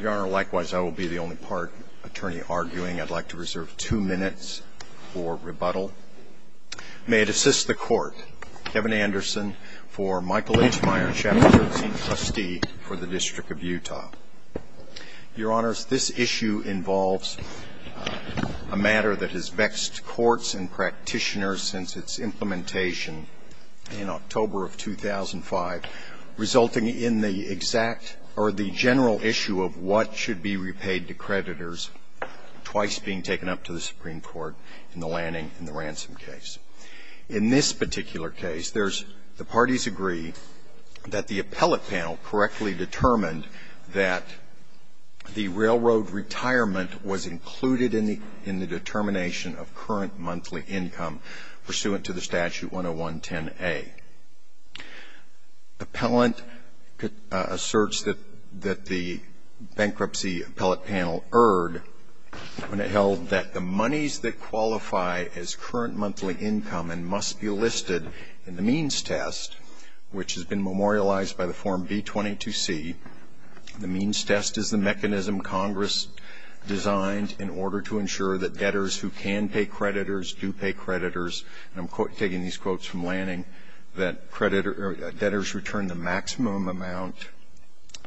Your Honor, likewise, I will be the only part attorney arguing. I'd like to reserve two minutes for rebuttal. May it assist the Court, Kevin Anderson for Michael H. Meyer, Chapter 13, Trustee for the District of Utah. Your Honors, this issue involves a matter that has vexed courts and practitioners since its implementation in October of 2005, resulting in the exact or the general issue of what should be repaid to creditors, twice being taken up to the Supreme Court in the Lanning and the Ransom case. In this particular case, there's, the parties agree that the appellate panel correctly determined that the railroad retirement was included in the determination of current monthly income pursuant to the Statute 10110A. Appellant asserts that the bankruptcy appellate panel erred when it held that the monies that qualify as current monthly income and must be listed in the means test, which has been memorialized by the Form B-22C. The means test is the mechanism Congress designed in order to ensure that debtors who can pay creditors do pay creditors. And I'm taking these quotes from Lanning, that creditors return the maximum amount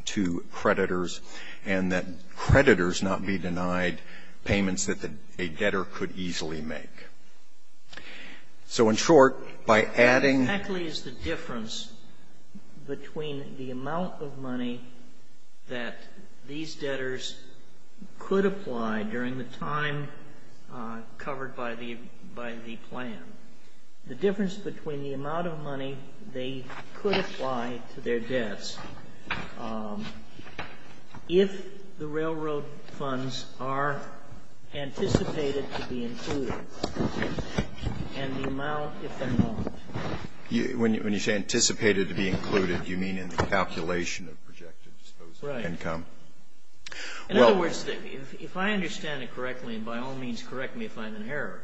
to creditors and that creditors not be denied payments that a debtor could easily make. So in short, by adding Exactly is the difference between the amount of money that these debtors could apply during the time covered by the plan, the difference between the amount of money they could apply to their debts if the railroad funds are anticipated to be included and the amount if they're not. When you say anticipated to be included, do you mean in the calculation of projected disposable income? Right. In other words, if I understand it correctly, by all means correct me if I'm in error,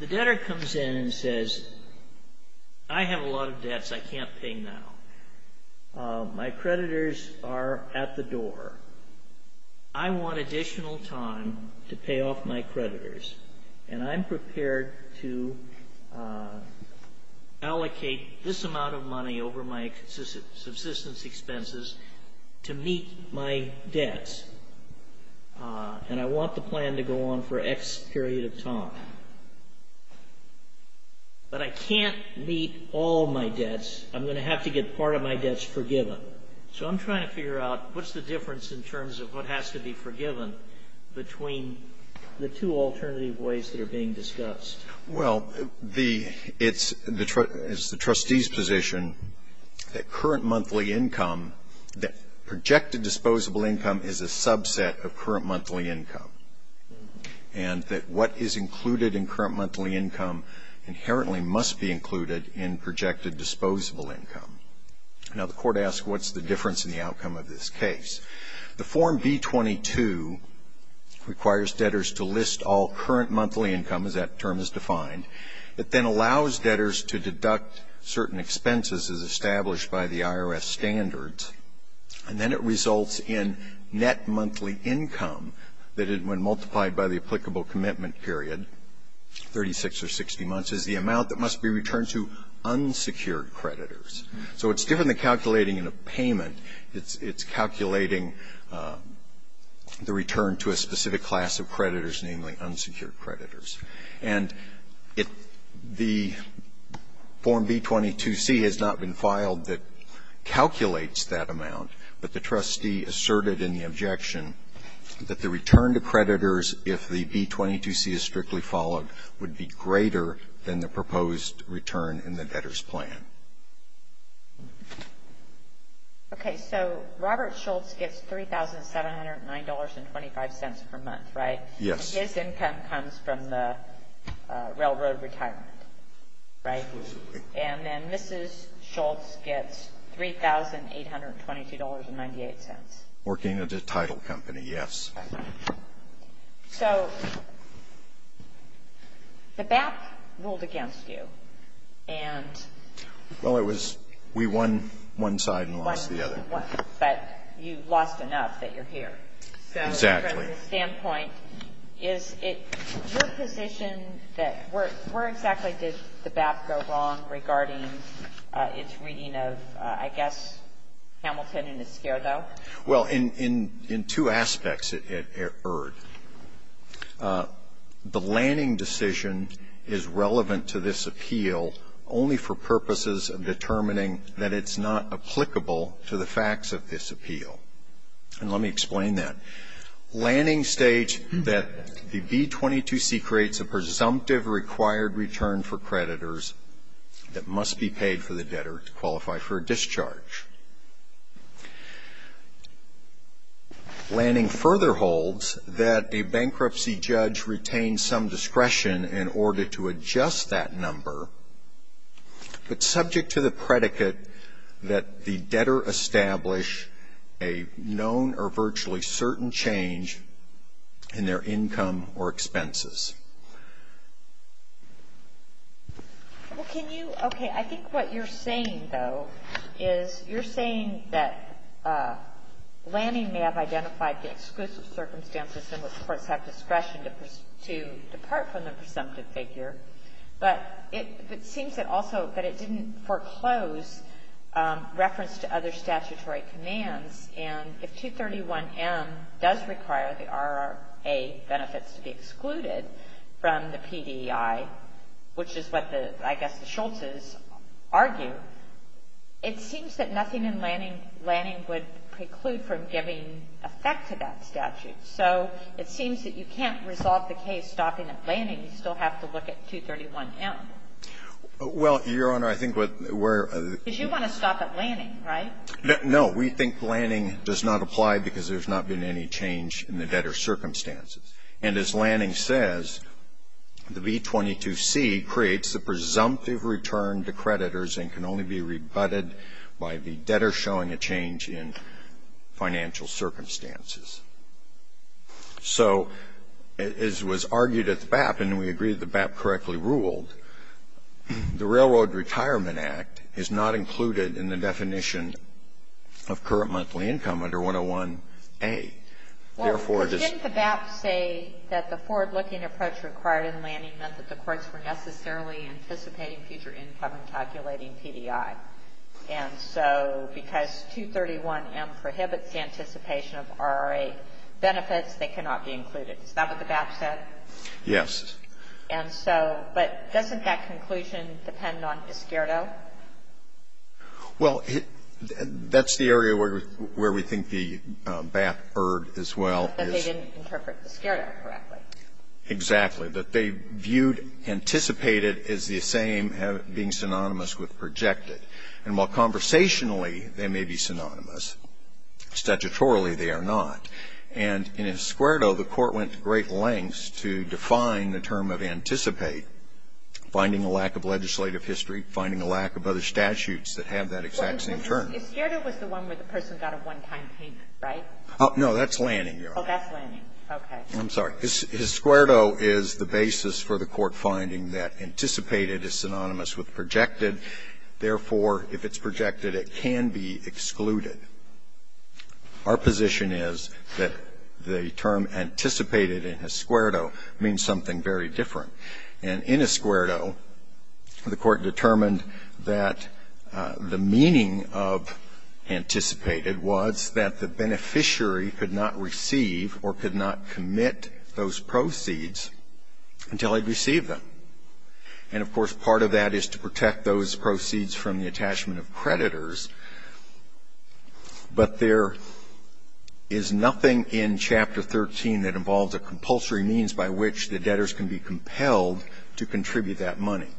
the debtor comes in and says, I have a lot of debts I can't pay now. My creditors are at the door. I want additional time to pay off my creditors. And I'm prepared to allocate this amount of money over my subsistence expenses to meet my debts. And I want the plan to go on for X period of time. But I can't meet all my debts. I'm going to have to get part of my debts forgiven. So I'm trying to figure out what's the difference in terms of what has to be forgiven between the two alternative ways that are being discussed. Well, the, it's the, it's the trustee's position that current monthly income, that projected disposable income is a subset of current monthly income. And that what is included in current monthly income inherently must be included in projected disposable income. Now the court asks what's the difference in the outcome of this case? The form B-22 requires debtors to list all current monthly income, as that term is defined. It then allows debtors to deduct certain expenses as established by the IRS standards, and then it results in net monthly income that when multiplied by the applicable commitment period, 36 or 60 months, is the amount that must be returned to unsecured creditors. So it's different than calculating in a payment. It's calculating the return to a specific class of creditors, namely unsecured creditors. And it, the form B-22C has not been filed that calculates that amount, but the trustee asserted in the objection that the return to creditors if the B-22C is strictly followed would be greater than the proposed return in the debtor's plan. Okay, so Robert Schultz gets $3,709.25 per month, right? Yes. His income comes from the railroad retirement, right? And then Mrs. Schultz gets $3,822.98. Working at a title company, yes. So the BAP ruled against you, and. Well, it was, we won one side and lost the other. But you lost enough that you're here. Exactly. So from the standpoint, is it your position that where exactly did the BAP go wrong regarding its reading of I guess Hamilton and Esquerdo? Well, in two aspects, it erred. The Lanning decision is relevant to this appeal only for purposes of determining that it's not applicable to the facts of this appeal. And let me explain that. Lanning states that the B-22C creates a presumptive required return for creditors that must be paid for the debtor to qualify for a discharge. Lanning further holds that a bankruptcy judge retains some discretion in order to adjust that number, but subject to the predicate that the debtor establish a known or virtually certain change in their income or expenses. Well, can you, okay, I think what you're saying, though, is you're saying that Lanning may have identified the exclusive circumstances in which courts have discretion to depart from the presumptive figure, but it seems that also that it didn't foreclose reference to other statutory commands. And if 231M does require the RRA benefits to be excluded from the PDI, which is what the, I guess, the Schultz's argue, it seems that nothing in Lanning would preclude from giving effect to that statute. So it seems that you can't resolve the case stopping at Lanning. You still have to look at 231M. Well, Your Honor, I think what we're Because you want to stop at Lanning, right? No. We think Lanning does not apply because there's not been any change in the debtor's circumstances. And as Lanning says, the B-22C creates the presumptive return to creditors and can only be rebutted by the debtor showing a change in financial circumstances. So as was argued at the BAP, and we agree the BAP correctly ruled, the Railroad Retirement Act is not included in the definition of current monthly income under 101A. Therefore, it is Well, didn't the BAP say that the forward-looking approach required in Lanning meant that the courts were necessarily anticipating future income and calculating PDI? And so because 231M prohibits the anticipation of RRA benefits, they cannot be included. Is that what the BAP said? Yes. And so, but doesn't that conclusion depend on Esquerdo? Well, that's the area where we think the BAP erred as well. That they didn't interpret Esquerdo correctly. Exactly. That they viewed, anticipated as the same being synonymous with projected. And while conversationally they may be synonymous, statutorily they are not. And in Esquerdo, the court went to great lengths to define the term of anticipate, finding a lack of legislative history, finding a lack of other statutes that have that exact same term. Esquerdo was the one where the person got a one-time pay, right? No, that's Lanning, Your Honor. Oh, that's Lanning. Okay. I'm sorry. Esquerdo is the basis for the court finding that anticipated is synonymous with projected. Therefore, if it's projected, it can be excluded. Our position is that the term anticipated in Esquerdo means something very different. And in Esquerdo, the court determined that the meaning of anticipated was that the beneficiary could not receive or could not commit those proceeds until he'd received them. And, of course, part of that is to protect those proceeds from the attachment of creditors. But there is nothing in Chapter 13 that involves a compulsory means by which the debtors can be compelled to contribute that money.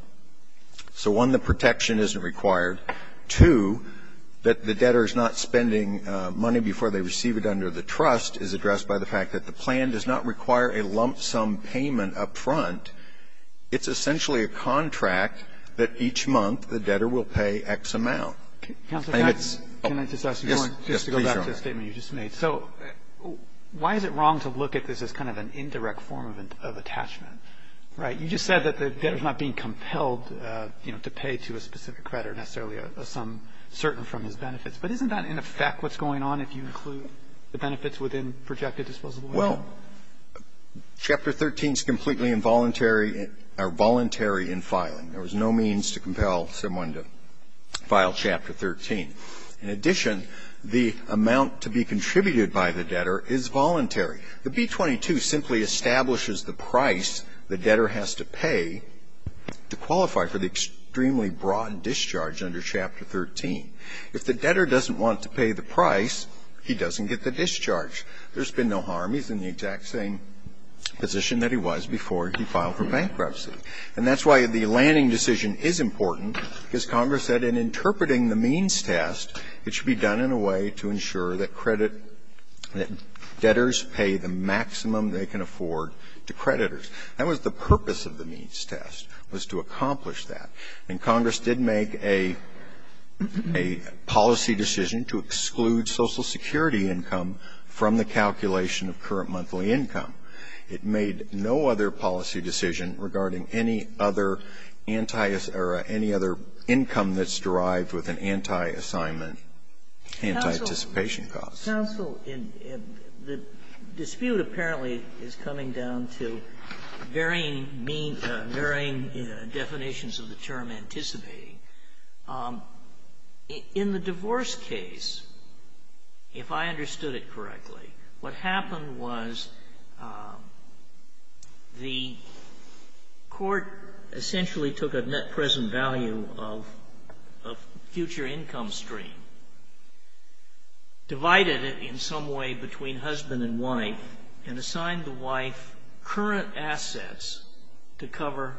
So, one, the protection isn't required. Two, that the debtor is not spending money before they receive it under the trust is addressed by the fact that the plan does not require a lump sum payment up front. It's essentially a contract that each month the debtor will pay X amount. I think it's yes, yes, please, Your Honor. So, why is it wrong to look at this as kind of an indirect form of attachment? Right? You just said that the debtor is not being compelled, you know, to pay to a specific creditor necessarily, a sum certain from his benefits. But isn't that, in effect, what's going on if you include the benefits within projected disposable? Well, Chapter 13 is completely involuntary or voluntary in filing. There is no means to compel someone to file Chapter 13. In addition, the amount to be contributed by the debtor is voluntary. The B-22 simply establishes the price the debtor has to pay to qualify for the extremely broad discharge under Chapter 13. If the debtor doesn't want to pay the price, he doesn't get the discharge. There's been no harm. He's in the exact same position that he was before he filed for bankruptcy. And that's why the Lanning decision is important, because Congress said in interpreting the means test, it should be done in a way to ensure that credit debtors pay the maximum they can afford to creditors. That was the purpose of the means test, was to accomplish that. And Congress did make a policy decision to exclude Social Security income from the calculation of current monthly income. It made no other policy decision regarding any other anti-or any other income that's derived with an anti-assignment, anti-anticipation cause. Counsel, in the dispute apparently is coming down to varying means, varying definitions of the term, anticipating. In the divorce case, if I understood it correctly, what happened was the debtor was in debt, the court essentially took a net present value of future income stream, divided it in some way between husband and wife, and assigned the wife current assets to cover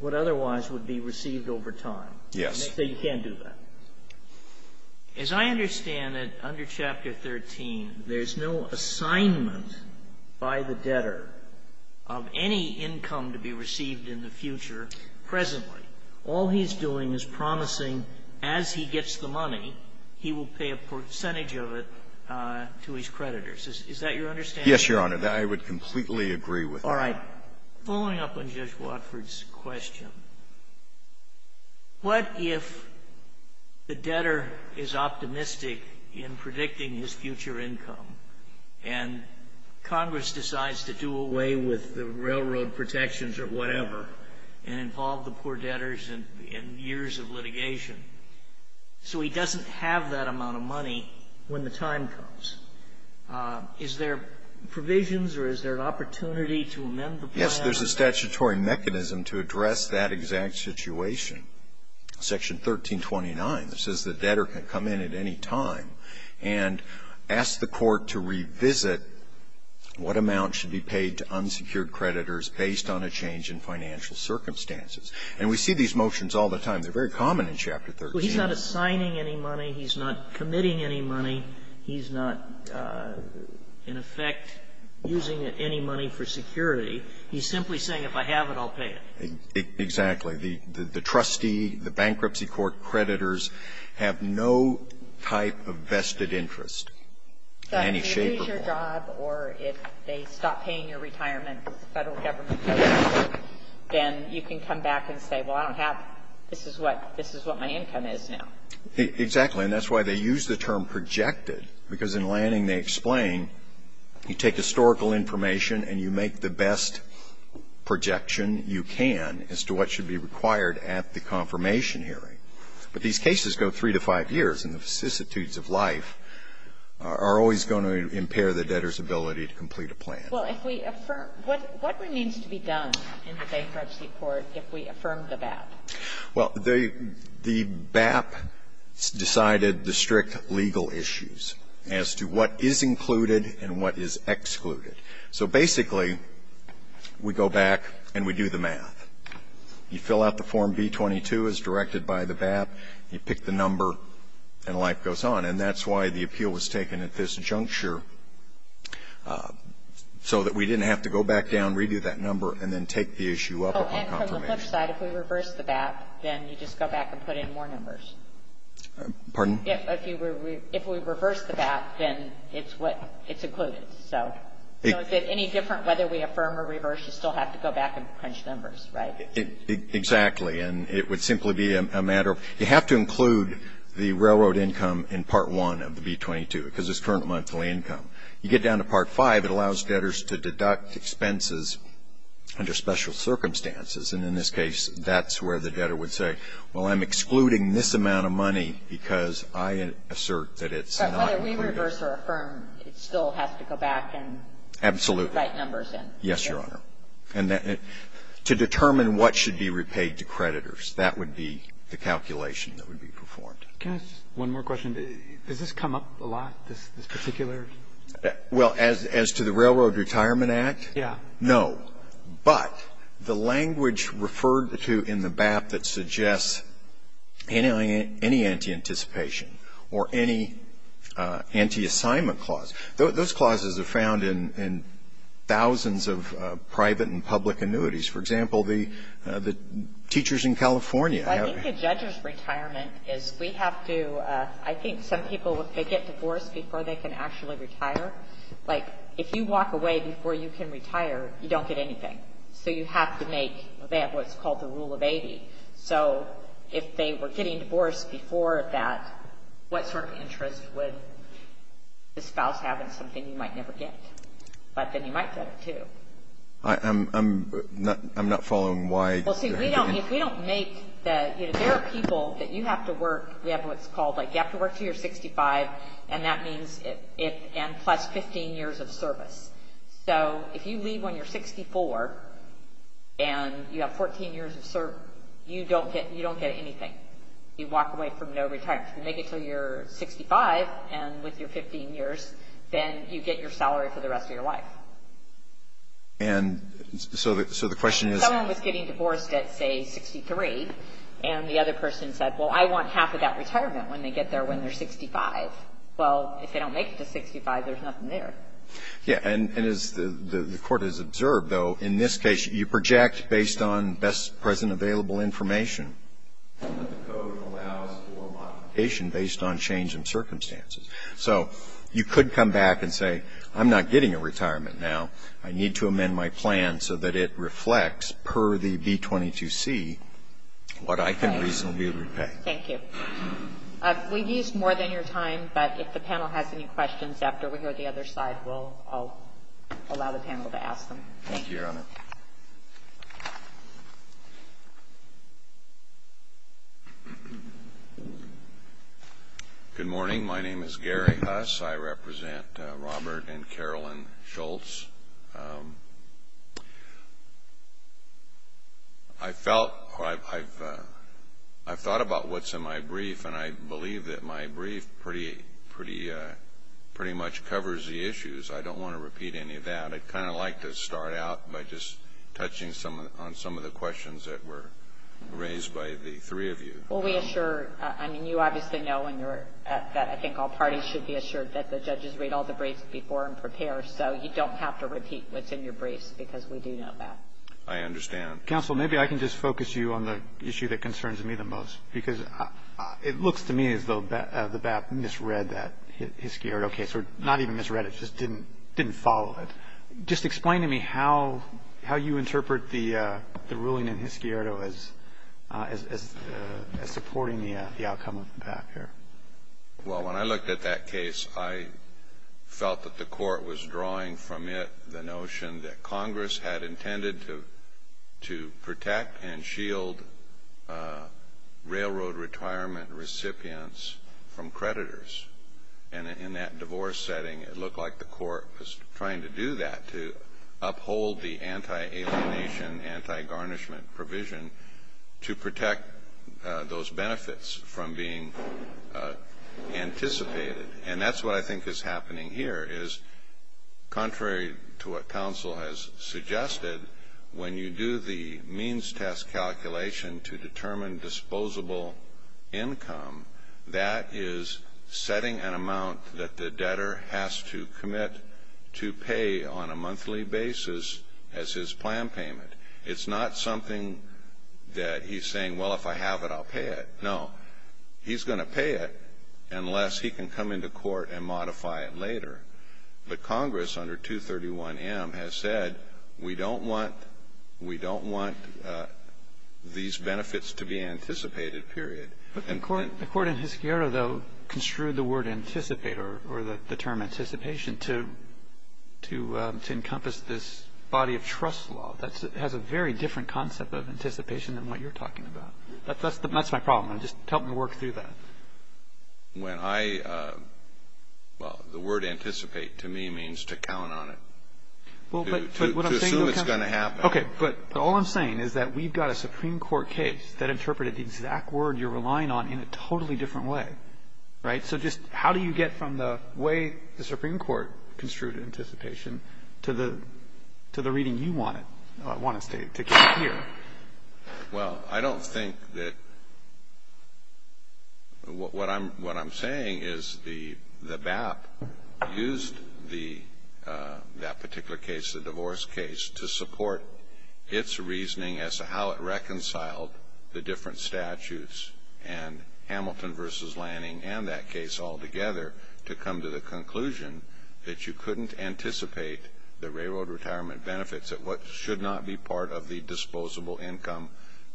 what otherwise would be received over time. Yes. So you can't do that. As I understand it, under Chapter 13, there's no assignment by the debtor of any income to be received in the future presently. All he's doing is promising as he gets the money, he will pay a percentage of it to his creditors. Is that your understanding? Yes, Your Honor. I would completely agree with that. All right. Following up on Judge Watford's question, what if the debtor is optimistic in predicting his future income, and Congress decides to do away with the railroad protections or whatever, and involve the poor debtors in years of litigation, so he doesn't have that amount of money when the time comes? Is there provisions or is there an opportunity to amend the plan? Yes. There's a statutory mechanism to address that exact situation. Section 1329 says the debtor can come in at any time and ask the court to revisit what amount should be paid to unsecured creditors based on a change in financial circumstances. And we see these motions all the time. They're very common in Chapter 13. He's not assigning any money. He's not committing any money. He's not, in effect, using any money for security. He's simply saying, if I have it, I'll pay it. Exactly. The trustee, the bankruptcy court creditors have no type of vested interest in any shape or form. But if you lose your job or if they stop paying your retirement because the Federal Government says so, then you can come back and say, well, I don't have this is what my income is now. Exactly. And that's why they use the term projected, because in Lanning they explain you take historical information and you make the best projection you can as to what should be required at the confirmation hearing. But these cases go 3 to 5 years, and the vicissitudes of life are always going to impair the debtor's ability to complete a plan. Well, if we affirm what remains to be done in the bankruptcy court if we affirm the BAP? Well, the BAP decided the strict legal issues as to what is included and what is excluded. So basically, we go back and we do the math. You fill out the Form B-22 as directed by the BAP, you pick the number, and life goes on. And that's why the appeal was taken at this juncture, so that we didn't have to go back down, redo that number, and then take the issue up on confirmation. On the other side, if we reverse the BAP, then you just go back and put in more numbers. Pardon? If we reverse the BAP, then it's included. So is it any different whether we affirm or reverse? You still have to go back and crunch numbers, right? Exactly. And it would simply be a matter of you have to include the railroad income in Part 1 of the B-22, because it's current monthly income. You get down to Part 5, it allows debtors to deduct expenses under special circumstances. And in this case, that's where the debtor would say, well, I'm excluding this amount of money because I assert that it's not included. But whether we reverse or affirm, it still has to go back and put the right numbers in. Absolutely. Yes, Your Honor. And to determine what should be repaid to creditors, that would be the calculation that would be performed. Can I ask one more question? Does this come up a lot, this particular? Well, as to the Railroad Retirement Act? Yes. No. But the language referred to in the BAP that suggests any anti-anticipation or any anti-assignment clause, those clauses are found in thousands of private and public annuities. For example, the teachers in California have to be paid. Well, I think the judge's retirement is we have to do – I think some people, if they get divorced, before they can actually retire. Like, if you walk away before you can retire, you don't get anything. So you have to make – they have what's called the rule of 80. So if they were getting divorced before that, what sort of interest would the spouse have in something you might never get? But then you might get it too. I'm not following why – Well, see, if we don't make the – you know, there are people that you have to work – we have what's called, like, you have to work until you're 65, and that means it – and plus 15 years of service. So if you leave when you're 64 and you have 14 years of service, you don't get – you don't get anything. You walk away from no retirement. If you make it until you're 65 and with your 15 years, then you get your salary for the rest of your life. And so the question is – If someone was getting divorced at, say, 63, and the other person said, well, I want half of that retirement when they get there when they're 65, well, if they don't make it to 65, there's nothing there. Yeah. And as the Court has observed, though, in this case, you project based on best present available information that the code allows for modification based on change in circumstances. So you could come back and say, I'm not getting a retirement now. I need to amend my plan so that it reflects per the B-22C what I can reasonably repay. Thank you. We've used more than your time, but if the panel has any questions after we go to the other side, we'll allow the panel to ask them. Thank you, Your Honor. Good morning. My name is Gary Huss. I represent Robert and Carolyn Schultz. I've thought about what's in my brief, and I believe that my brief pretty much covers the issues. I don't want to repeat any of that. I'd kind of like to start out by just touching on some of the questions that were raised by the three of you. Well, we assure – I mean, you obviously know and I think all parties should be assured that the judges read all the briefs before and prepare, so you don't have to repeat what's in your briefs, because we do know that. I understand. Counsel, maybe I can just focus you on the issue that concerns me the most, because it looks to me as though the BAP misread that Hiscierto case, or not even misread it, just didn't follow it. Just explain to me how you interpret the ruling in Hiscierto as supporting the outcome of the BAP here. Well, when I looked at that case, I felt that the Court was drawing from it the notion that Congress had intended to protect and shield railroad retirement recipients from creditors. And in that divorce setting, it looked like the Court was trying to do that, to uphold the anti-alienation, anti-garnishment provision to protect those who were anticipated. And that's what I think is happening here, is contrary to what counsel has suggested, when you do the means test calculation to determine disposable income, that is setting an amount that the debtor has to commit to pay on a monthly basis as his plan payment. It's not something that he's saying, well, if I have it, I'll pay it. No. He's going to pay it unless he can come into court and modify it later. But Congress, under 231M, has said, we don't want these benefits to be anticipated, period. But the Court in Hiscierto, though, construed the word anticipate, or the term anticipation, to encompass this body of trust law that has a very different concept of anticipation than what you're talking about. That's my problem. Just help me work through that. When I, well, the word anticipate, to me, means to count on it. To assume it's going to happen. Okay. But all I'm saying is that we've got a Supreme Court case that interpreted the exact word you're relying on in a totally different way. Right? So just how do you get from the way the Supreme Court construed anticipation to the reading you want it to get here? Well, I don't think that what I'm saying is the BAP used that particular case, the divorce case, to support its reasoning as to how it reconciled the different statutes and Hamilton v. Lanning and that case altogether to come to the conclusion that you couldn't anticipate the railroad retirement benefits at what should not be part of the disposable income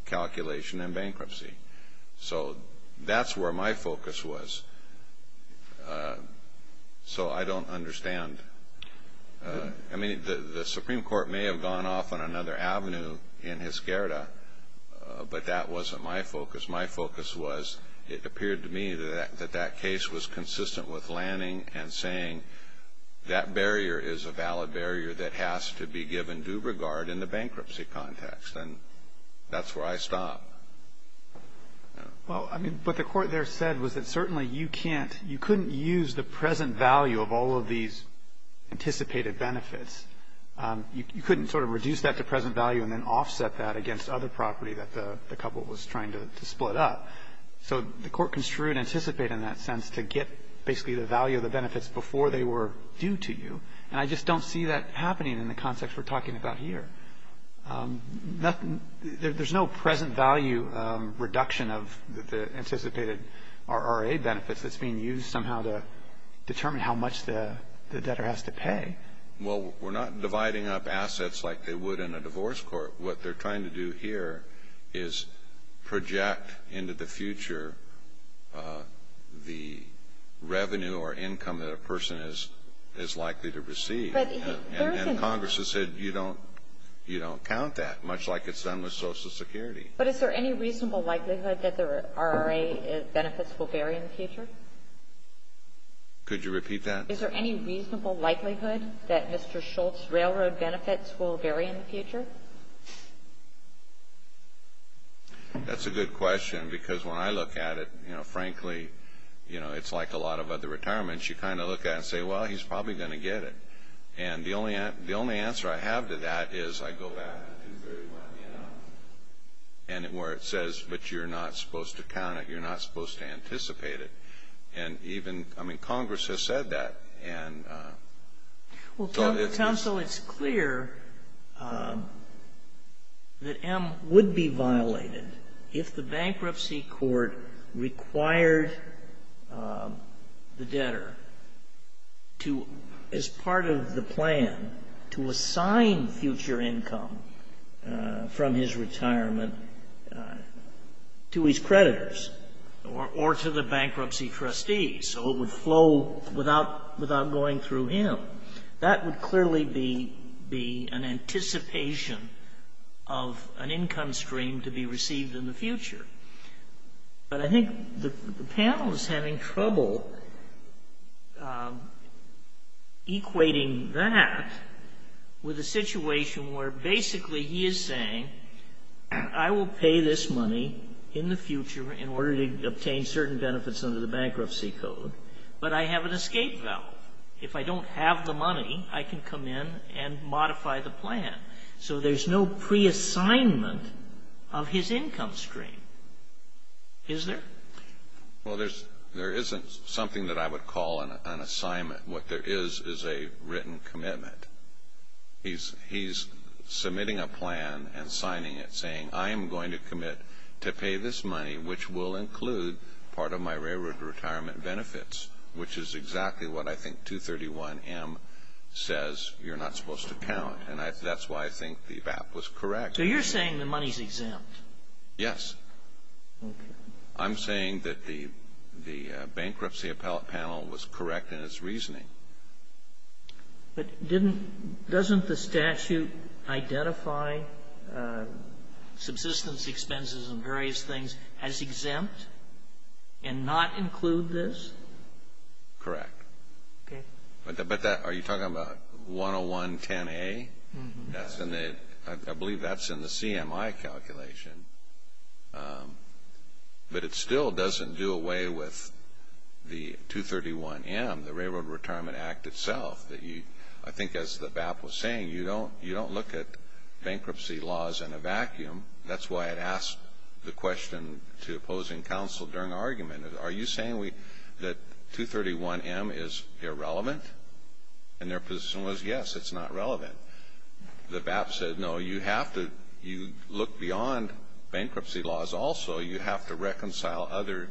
calculation in bankruptcy. So that's where my focus was. So I don't understand. I mean, the Supreme Court may have gone off on another avenue in Hizkerda, but that wasn't my focus. My focus was it appeared to me that that case was consistent with Lanning and saying that barrier is a valid barrier that has to be given due regard in the bankruptcy context. And that's where I stop. Well, I mean, what the Court there said was that certainly you can't, you couldn't use the present value of all of these anticipated benefits. You couldn't sort of reduce that to present value and then offset that against other property that the couple was trying to split up. So the Court construed anticipate in that sense to get basically the value of the benefits before they were due to you, and I just don't see that happening in the context we're talking about here. There's no present value reduction of the anticipated RRA benefits that's being used somehow to determine how much the debtor has to pay. Well, we're not dividing up assets like they would in a divorce court. What they're trying to do here is project into the future the revenue or income that a person is likely to receive. And Congress has said you don't count that, much like it's done with Social Security. But is there any reasonable likelihood that the RRA benefits will vary in the future? Could you repeat that? Is there any reasonable likelihood that Mr. Schultz's railroad benefits will vary in the future? That's a good question, because when I look at it, you know, frankly, it's like a lot of other retirements. You kind of look at it and say, well, he's probably going to get it. And the only answer I have to that is I go back to 231M, where it says, but you're not supposed to count it, you're not supposed to anticipate it. And even, I mean, Congress has said that. Well, counsel, it's clear that M would be violated if the bankruptcy court required the debtor to, as part of the plan, to assign future income from his retirement to his creditors or to the bankruptcy trustees. So it would flow without going through him. That would clearly be an anticipation of an income stream to be received in the future. But I think the panel is having trouble equating that with a situation where basically he is saying, I will pay this money in the future in order to obtain certain benefits under the bankruptcy code, but I have an escape valve. If I don't have the money, I can come in and modify the plan. So there's no pre-assignment of his income stream, is there? Well, there isn't something that I would call an assignment. What there is is a written commitment. He's submitting a plan and signing it saying, I am going to commit to pay this money, which will include part of my railroad retirement benefits, which is exactly what I think 231M says, you're not supposed to count. And that's why I think the VAP was correct. So you're saying the money is exempt? Yes. Okay. I'm saying that the bankruptcy panel was correct in its reasoning. But doesn't the statute identify subsistence expenses and various things as exempt and not include this? Correct. Okay. But are you talking about 10110A? I believe that's in the CMI calculation, but it still doesn't do away with the 231M, the Railroad Retirement Act itself. I think as the VAP was saying, you don't look at bankruptcy laws in a vacuum. That's why it asked the question to opposing counsel during argument. Are you saying that 231M is irrelevant? And their position was, yes, it's not relevant. The VAP said, no, you have to look beyond bankruptcy laws also. You have to reconcile other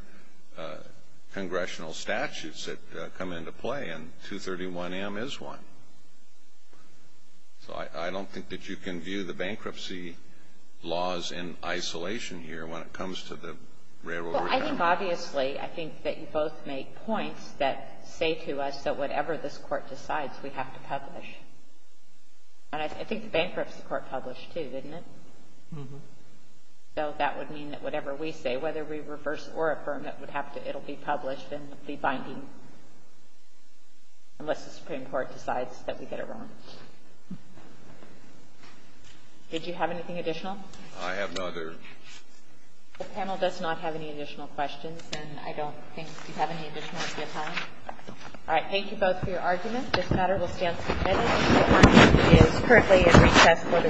congressional statutes that come into play, and 231M is one. So I don't think that you can view the bankruptcy laws in isolation here when it comes to the Railroad Retirement Act. I think, obviously, I think that you both make points that say to us that whatever this Court decides, we have to publish. And I think the bankruptcy Court published, too, didn't it? Mm-hmm. So that would mean that whatever we say, whether we reverse or affirm it, it will be published and be binding unless the Supreme Court decides that we get it wrong. Did you have anything additional? I have no other. The panel does not have any additional questions, and I don't think you have any additional at this time. All right. Thank you both for your argument. This matter will stand submitted. The Court is currently at recess for the week. All right.